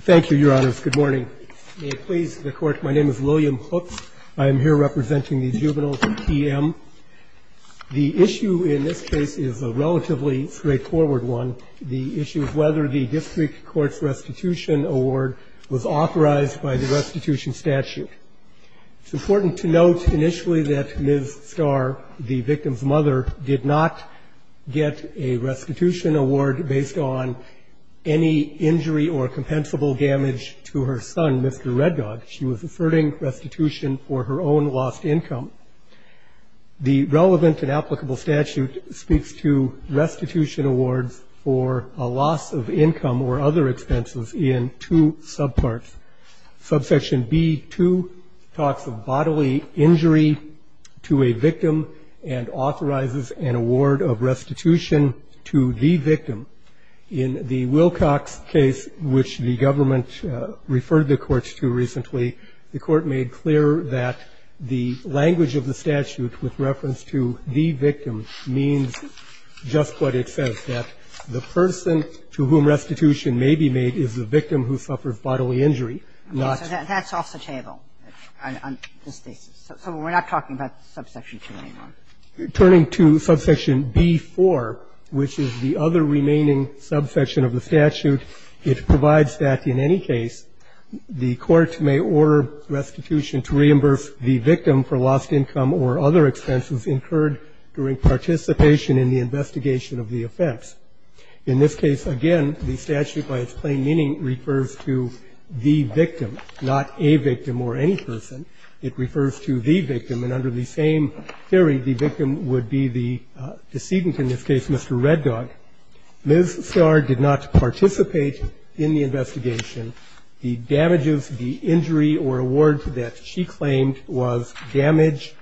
Thank you, Your Honors. Good morning. May it please the Court, my name is William Hooks. I am here representing the Juvenile TM. The issue in this case is a relatively straightforward one, the issue of whether the district court's restitution award was authorized by the restitution statute. It's important to note initially that Ms. Starr, the victim's mother, did not get a restitution award based on any injury or compensable damage to her son, Mr. Reddog. She was asserting restitution for her own lost income. The relevant and applicable statute speaks to restitution awards for a loss of income or other expenses in two subparts. Subsection B2 talks of bodily injury to a victim and authorizes an award of restitution to the victim. In the Wilcox case, which the government referred the courts to recently, the court made clear that the language of the statute with reference to the victim means just what it says, that the person to whom restitution may be made is the victim who suffers bodily injury. Kagan. So that's off the table on this thesis? So we're not talking about subsection 2 anymore? Hooks. Turning to subsection B4, which is the other remaining subsection of the statute, it provides that in any case the court may order restitution to reimburse the victim for lost income or other expenses incurred during participation in the investigation of the offense. In this case, again, the statute by its plain meaning refers to the victim, not a victim or any person. It refers to the victim. And under the same theory, the victim would be the decedent, in this case Mr. Reddog. Ms. Starr did not participate in the investigation. The damages, the injury or award that she claimed was damage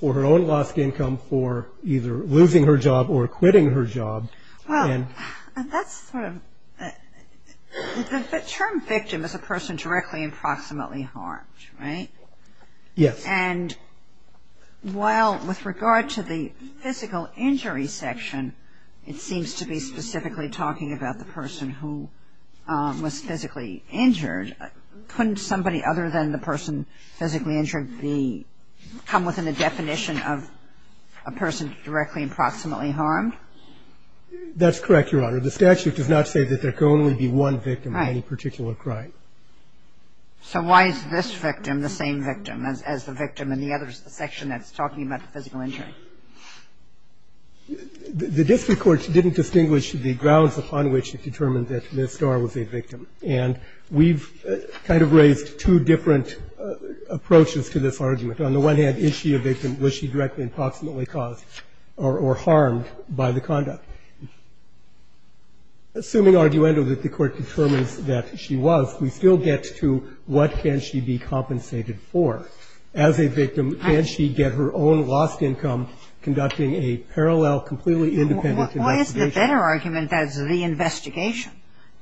for her own lost income for either losing her job or quitting her job. Well, that's sort of the term victim is a person directly and proximately harmed, right? Yes. And while with regard to the physical injury section, it seems to be specifically talking about the person who was physically injured. Couldn't somebody other than the person physically injured come within the definition of a person directly and proximately harmed? That's correct, Your Honor. The statute does not say that there can only be one victim of any particular crime. Right. So why is this victim the same victim as the victim in the other section that's talking about the physical injury? The district courts didn't distinguish the grounds upon which it determined that Ms. Starr was a victim. And we've kind of raised two different approaches to this argument. On the one hand, is she a victim, was she directly and proximately caused or harmed by the conduct? Assuming arguendo that the Court determines that she was, we still get to what can she be compensated for. As a victim, can she get her own lost income conducting a parallel, completely independent investigation? Why is the better argument that it's the investigation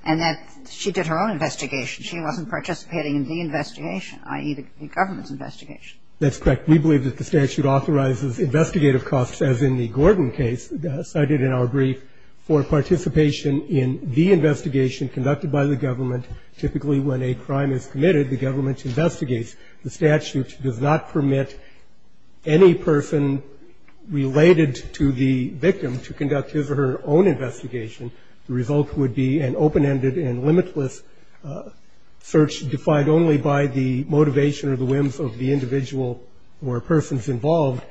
and that she did her own investigation, she wasn't participating in the investigation, i.e., the government's investigation? That's correct. We believe that the statute authorizes investigative costs, as in the Gordon case, cited in our brief, for participation in the investigation conducted by the government. Typically, when a crime is committed, the government investigates. The statute does not permit any person related to the victim to conduct his or her own investigation. The result would be an open-ended and limitless search defied only by the motivation or the whims of the individual or persons involved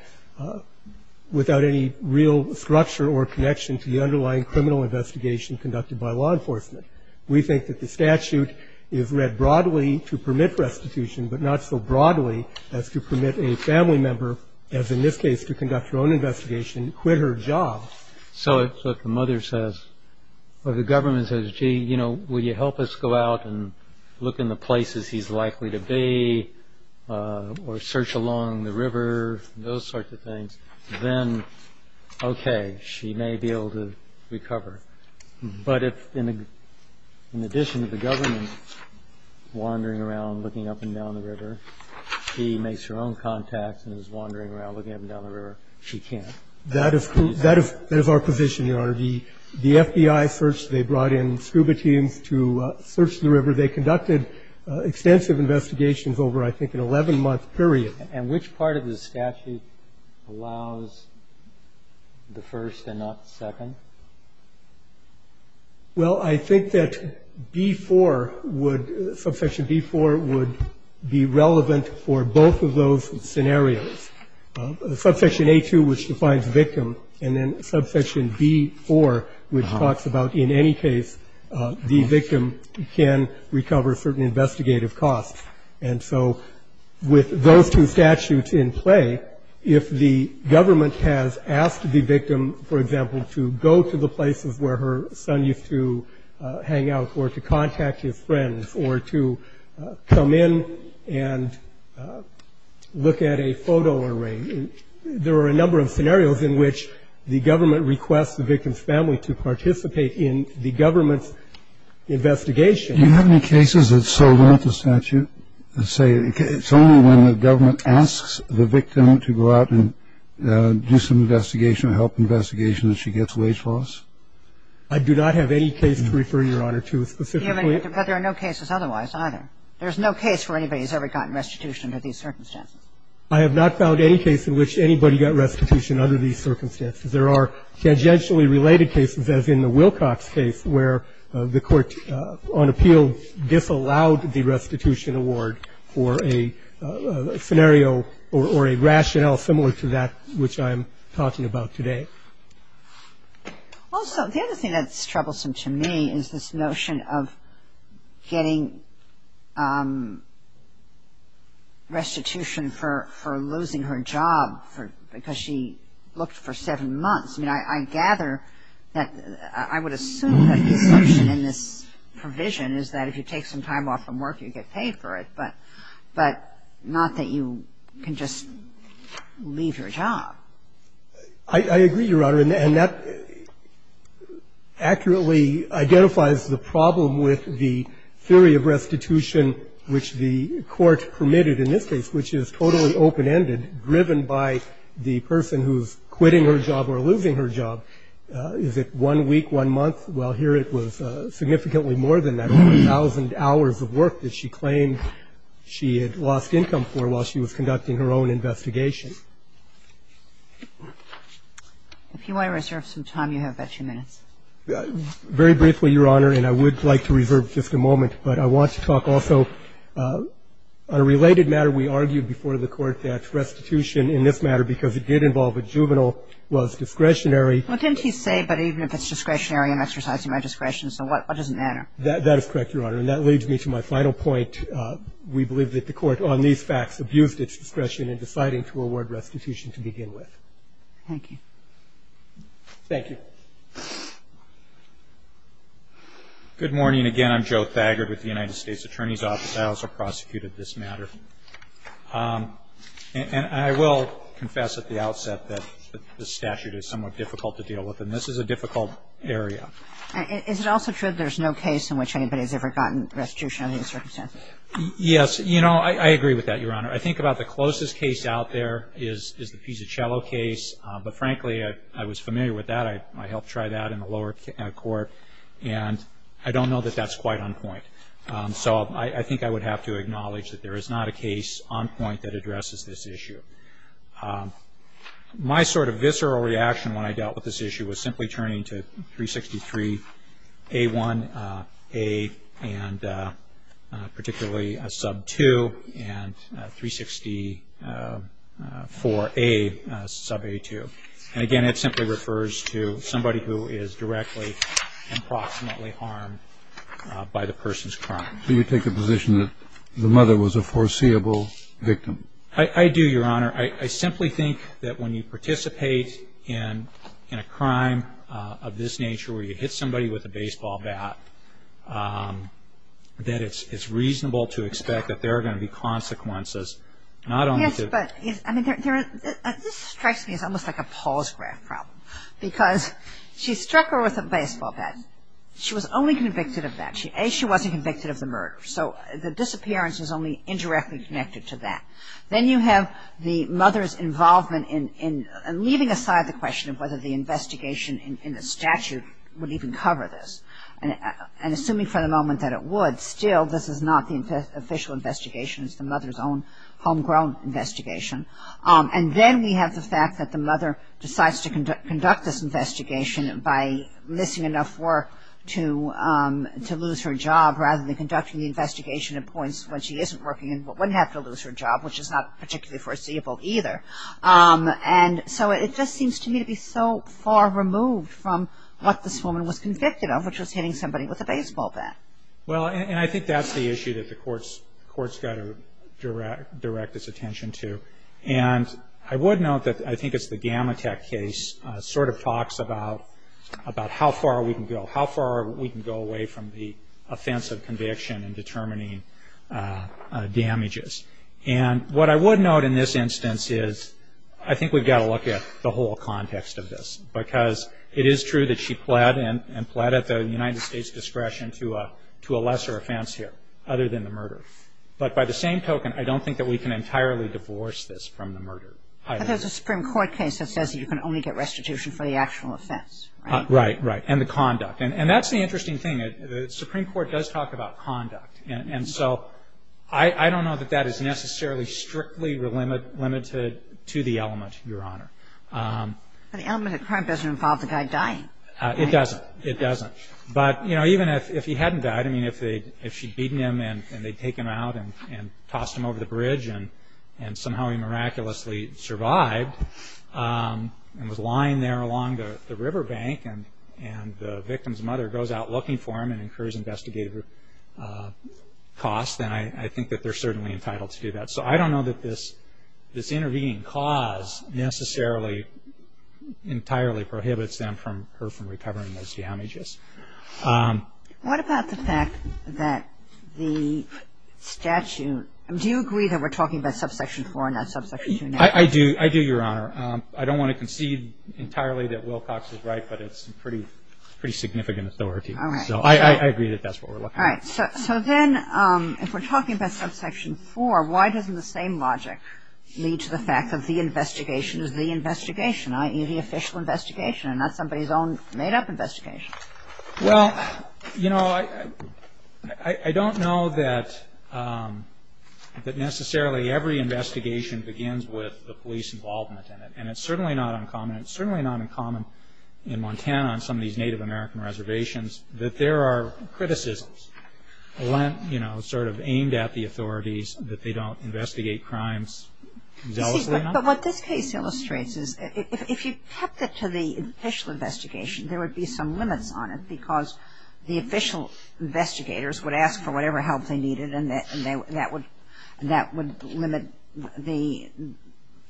without any real structure or connection to the underlying criminal investigation conducted by law enforcement. We think that the statute is read broadly to permit restitution but not so broadly as to permit a family member, as in this case, to conduct her own investigation and quit her job. So if the mother says or the government says, gee, you know, will you help us go out and look in the places he's likely to be or search along the river, those sorts of things, then, okay, she may be able to recover. But if, in addition to the government wandering around looking up and down the river, she makes her own contacts and is wandering around looking up and down the river, That is our provision, Your Honor. The FBI search, they brought in scuba teams to search the river. They conducted extensive investigations over, I think, an 11-month period. And which part of the statute allows the first and not the second? Well, I think that B-4 would, Subsection B-4 would be relevant for both of those scenarios. Subsection A-2, which defines victim, and then Subsection B-4, which talks about in any case the victim can recover certain investigative costs. And so with those two statutes in play, if the government has asked the victim, for example, to go to the places where her son used to hang out or to contact his There are a number of scenarios in which the government requests the victim's family to participate in the government's investigation. Do you have any cases that serve out the statute that say it's only when the government asks the victim to go out and do some investigation, help investigation, that she gets wage loss? I do not have any case to refer, Your Honor, to specifically. But there are no cases otherwise either. There's no case where anybody's ever gotten restitution under these circumstances. I have not found any case in which anybody got restitution under these circumstances. There are tangentially related cases, as in the Wilcox case, where the court on appeal disallowed the restitution award for a scenario or a rationale similar to that which I am talking about today. Also, the other thing that's troublesome to me is this notion of getting restitution for losing her job because she looked for seven months. I mean, I gather that I would assume that the assumption in this provision is that if you take some time off from work, you get paid for it, but not that you can just leave your job. I agree, Your Honor, and that accurately identifies the problem with the theory of restitution which the court permitted in this case, which is totally open-ended, driven by the person who's quitting her job or losing her job. Is it one week, one month? Well, here it was significantly more than that, 1,000 hours of work that she claimed she had lost income for while she was conducting her own investigation. If you want to reserve some time, you have about two minutes. Very briefly, Your Honor, and I would like to reserve just a moment, but I want to talk also on a related matter we argued before the Court that restitution in this matter, because it did involve a juvenile, was discretionary. Well, didn't he say, but even if it's discretionary, I'm exercising my discretion, so what doesn't matter? That is correct, Your Honor, and that leads me to my final point. We believe that the Court on these facts abused its discretion in deciding to award restitution to begin with. Thank you. Thank you. Good morning. Again, I'm Joe Thagard with the United States Attorney's Office. I also prosecuted this matter. And I will confess at the outset that the statute is somewhat difficult to deal with, and this is a difficult area. Is it also true that there's no case in which anybody has ever gotten restitution under these circumstances? Yes. You know, I agree with that, Your Honor. I think about the closest case out there is the Pizzacello case, but frankly I was familiar with that. I helped try that in the lower court, and I don't know that that's quite on point. So I think I would have to acknowledge that there is not a case on point that addresses this issue. My sort of visceral reaction when I dealt with this issue was simply turning to and 364A, sub A2. And, again, it simply refers to somebody who is directly and proximately harmed by the person's crime. So you take the position that the mother was a foreseeable victim? I do, Your Honor. I simply think that when you participate in a crime of this nature where you hit somebody with a baseball bat, that it's reasonable to expect that there are going to be consequences, not only to Yes, but this strikes me as almost like a Paul's graph problem, because she struck her with a baseball bat. She was only convicted of that. A, she wasn't convicted of the murder. So the disappearance is only indirectly connected to that. Then you have the mother's involvement in leaving aside the question of whether the investigation in the statute would even cover this. And assuming for the moment that it would, still this is not the official investigation. It's the mother's own homegrown investigation. And then we have the fact that the mother decides to conduct this investigation by missing enough work to lose her job rather than conducting the investigation at points when she isn't working and wouldn't have to lose her job, which is not particularly foreseeable either. And so it just seems to me to be so far removed from what this woman was convicted of, which was hitting somebody with a baseball bat. Well, and I think that's the issue that the court's got to direct its attention to. And I would note that I think it's the Gamatek case sort of talks about how far we can go, how far we can go away from the offense of conviction in determining damages. And what I would note in this instance is I think we've got to look at the whole context of this because it is true that she pled and pled at the United States' discretion to a lesser offense here other than the murder. But by the same token, I don't think that we can entirely divorce this from the murder. But there's a Supreme Court case that says you can only get restitution for the actual offense, right? Right, right. And the conduct. And that's the interesting thing. The Supreme Court does talk about conduct. And so I don't know that that is necessarily strictly limited to the element, Your Honor. The element of crime doesn't involve the guy dying. It doesn't. It doesn't. But, you know, even if he hadn't died, I mean, if she'd beaten him and they'd taken him out and tossed him over the bridge and somehow he miraculously survived and was lying there along the riverbank and the victim's mother goes out looking for him and incurs investigative costs, then I think that they're certainly entitled to do that. So I don't know that this intervening cause necessarily entirely prohibits her from recovering those damages. What about the fact that the statute – do you agree that we're talking about subsection 4 and not subsection 2? I do, Your Honor. I don't want to concede entirely that Wilcox is right, but it's a pretty significant authority. So I agree that that's what we're looking at. All right. So then if we're talking about subsection 4, why doesn't the same logic lead to the fact that the investigation is the investigation, i.e., the official investigation and not somebody's own made-up investigation? Well, you know, I don't know that necessarily every investigation begins with the police involvement in it. And it's certainly not uncommon. In Montana, on some of these Native American reservations, that there are criticisms, you know, sort of aimed at the authorities that they don't investigate crimes zealously enough. But what this case illustrates is if you kept it to the official investigation, there would be some limits on it because the official investigators would ask for whatever help they needed and that would limit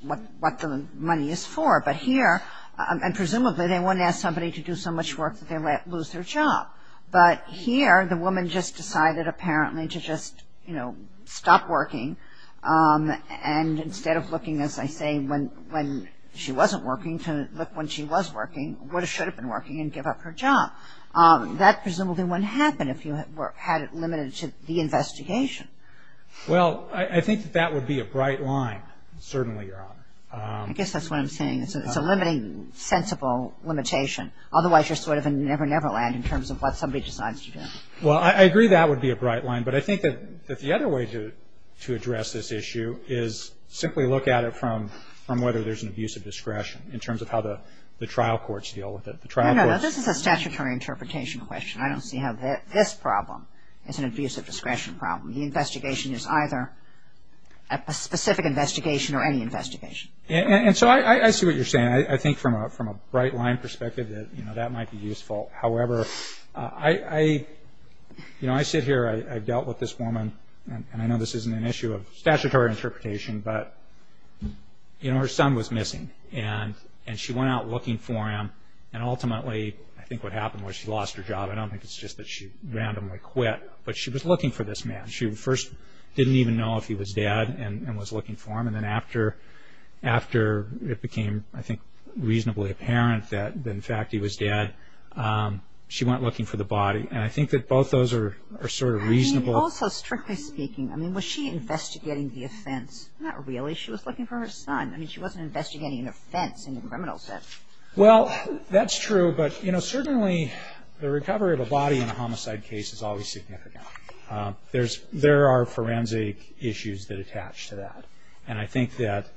what the money is for. But here, and presumably they wouldn't ask somebody to do so much work that they might lose their job. But here, the woman just decided apparently to just, you know, stop working. And instead of looking, as I say, when she wasn't working, to look when she was working, would or should have been working, and give up her job. That presumably wouldn't happen if you had it limited to the investigation. Well, I think that that would be a bright line, certainly, Your Honor. I guess that's what I'm saying. It's a limiting, sensible limitation. Otherwise, you're sort of in Never Never Land in terms of what somebody decides to do. Well, I agree that would be a bright line. But I think that the other way to address this issue is simply look at it from whether there's an abuse of discretion in terms of how the trial courts deal with it. No, no, no. This is a statutory interpretation question. I don't see how this problem is an abuse of discretion problem. The investigation is either a specific investigation or any investigation. And so I see what you're saying. I think from a bright line perspective that, you know, that might be useful. However, you know, I sit here, I've dealt with this woman, and I know this isn't an issue of statutory interpretation, but, you know, her son was missing. And she went out looking for him, and ultimately I think what happened was she lost her job. I don't think it's just that she randomly quit, but she was looking for this man. She first didn't even know if he was dead and was looking for him. And then after it became, I think, reasonably apparent that, in fact, he was dead, she went looking for the body. And I think that both those are sort of reasonable. I mean, also, strictly speaking, I mean, was she investigating the offense? Not really. She was looking for her son. I mean, she wasn't investigating an offense in the criminal sense. Well, that's true. But, you know, certainly the recovery of a body in a homicide case is always significant. There are forensic issues that attach to that. And I think that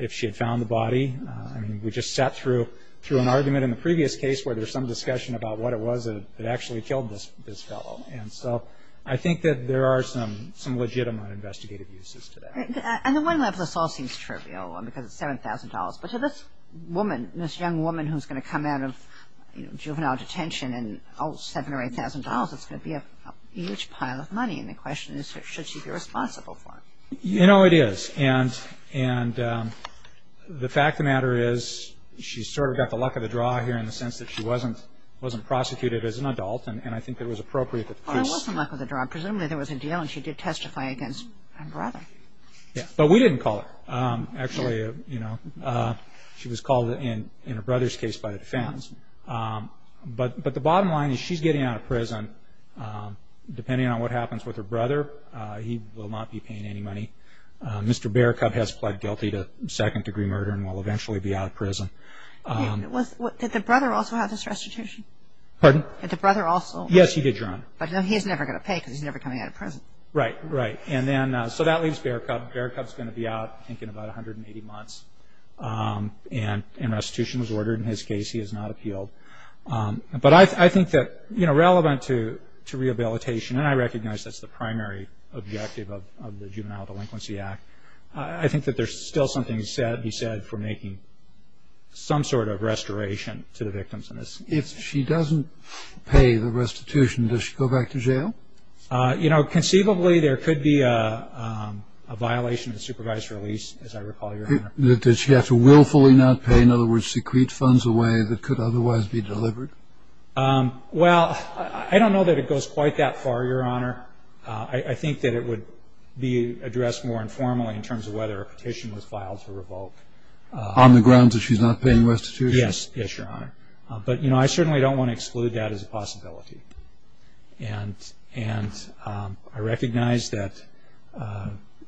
if she had found the body, I mean, we just sat through an argument in the previous case where there was some discussion about what it was that actually killed this fellow. And so I think that there are some legitimate investigative uses to that. And on one level, this all seems trivial because it's $7,000. But to this woman, this young woman who's going to come out of juvenile detention, and oh, $7,000 or $8,000, it's going to be a huge pile of money. And the question is, should she be responsible for it? You know, it is. And the fact of the matter is she's sort of got the luck of the draw here in the sense that she wasn't prosecuted as an adult. And I think it was appropriate that the police – Well, it was the luck of the draw. Presumably there was a deal, and she did testify against her brother. Yeah. But we didn't call her, actually. Sure. You know, she was called in her brother's case by the defense. But the bottom line is she's getting out of prison. Depending on what happens with her brother, he will not be paying any money. Mr. Bearcub has pled guilty to second-degree murder and will eventually be out of prison. Did the brother also have this restitution? Pardon? Did the brother also? Yes, he did, Your Honor. But he's never going to pay because he's never coming out of prison. Right, right. So that leaves Bearcub. Bearcub's going to be out, I think, in about 180 months. And restitution was ordered in his case. He has not appealed. But I think that, you know, relevant to rehabilitation, and I recognize that's the primary objective of the Juvenile Delinquency Act, I think that there's still something to be said for making some sort of restoration to the victims. If she doesn't pay the restitution, does she go back to jail? You know, conceivably there could be a violation of the supervised release, as I recall, Your Honor. Does she have to willfully not pay, in other words, secrete funds away that could otherwise be delivered? Well, I don't know that it goes quite that far, Your Honor. I think that it would be addressed more informally in terms of whether a petition was filed to revoke. On the grounds that she's not paying restitution? Yes, Your Honor. But, you know, I certainly don't want to exclude that as a possibility. And I recognize that,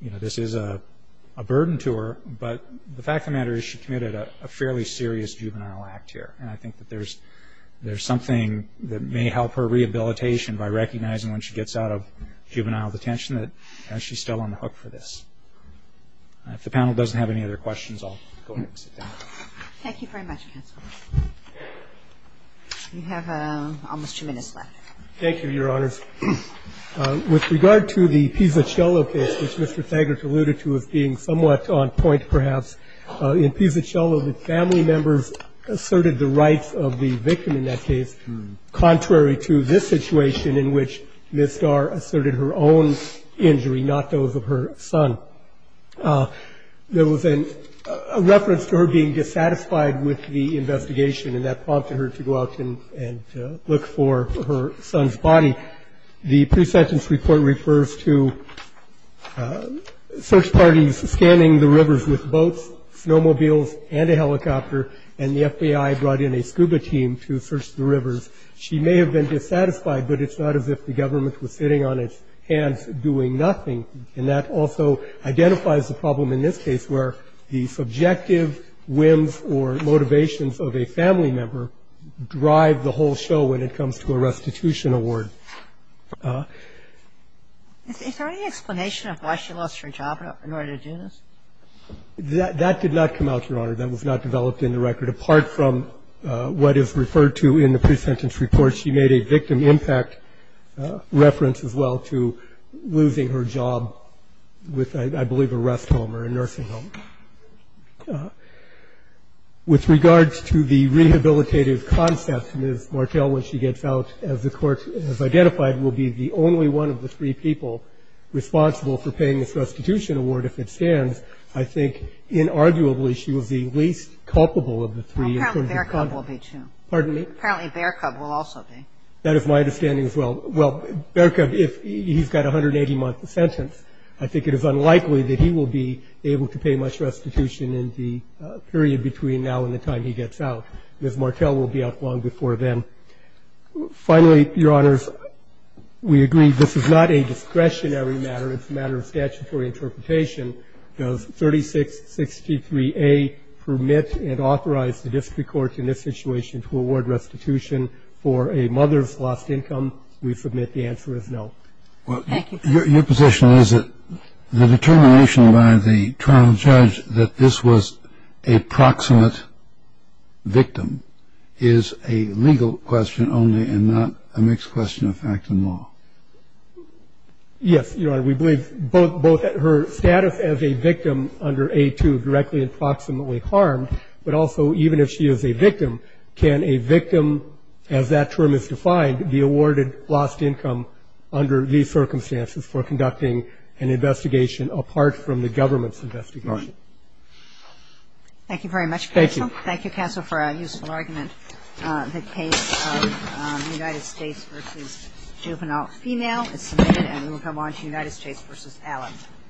you know, this is a burden to her, but the fact of the matter is she committed a fairly serious juvenile act here, and I think that there's something that may help her rehabilitation by recognizing when she gets out of juvenile detention that she's still on the hook for this. If the panel doesn't have any other questions, I'll go ahead and sit down. Thank you very much, counsel. You have almost two minutes left. Thank you, Your Honors. With regard to the Pizzacello case, which Mr. Thagert alluded to as being somewhat on point perhaps, in Pizzacello the family members asserted the rights of the victim in that case, contrary to this situation in which Ms. Starr asserted her own injury, not those of her son. There was a reference to her being dissatisfied with the investigation, and that prompted her to go out and look for her son's body. The pre-sentence report refers to search parties scanning the rivers with boats, snowmobiles, and a helicopter, and the FBI brought in a scuba team to search the rivers. She may have been dissatisfied, but it's not as if the government was sitting on its hands doing nothing. And that also identifies the problem in this case where the subjective whims or motivations of a family member drive the whole show when it comes to a restitution award. Is there any explanation of why she lost her job in order to do this? That did not come out, Your Honor. That was not developed in the record. Apart from what is referred to in the pre-sentence report, she made a victim impact reference as well to losing her job with, I believe, a rest home or a nursing home. With regards to the rehabilitative concept, Ms. Martel, when she gets out, as the Court has identified, will be the only one of the three people responsible for paying this restitution award if it stands. I think, inarguably, she was the least culpable of the three. That is my understanding. Apparently, Bearcup will be, too. Pardon me? Apparently, Bearcup will also be. That is my understanding as well. Well, Bearcup, if he's got 180 month sentence, I think it is unlikely that he will be able to pay much restitution in the period between now and the time he gets out. Ms. Martel will be out long before then. Finally, Your Honors, we agree this is not a discretionary matter. It's a matter of statutory interpretation. Does 3663A permit and authorize the district court in this situation to award restitution for a mother's lost income? We submit the answer is no. Well, your position is that the determination by the trial judge that this was a proximate victim is a legal question only and not a mixed question of fact and law. Yes, Your Honor. We believe both her status as a victim under A2 directly and proximately harmed, but also even if she is a victim, can a victim, as that term is defined, be awarded lost income under these circumstances for conducting an investigation apart from the government's investigation? Thank you very much, counsel. Thank you. Thank you, counsel, for a useful argument. The case of United States v. Juvenile Female is submitted and will come on to United States v. Allen.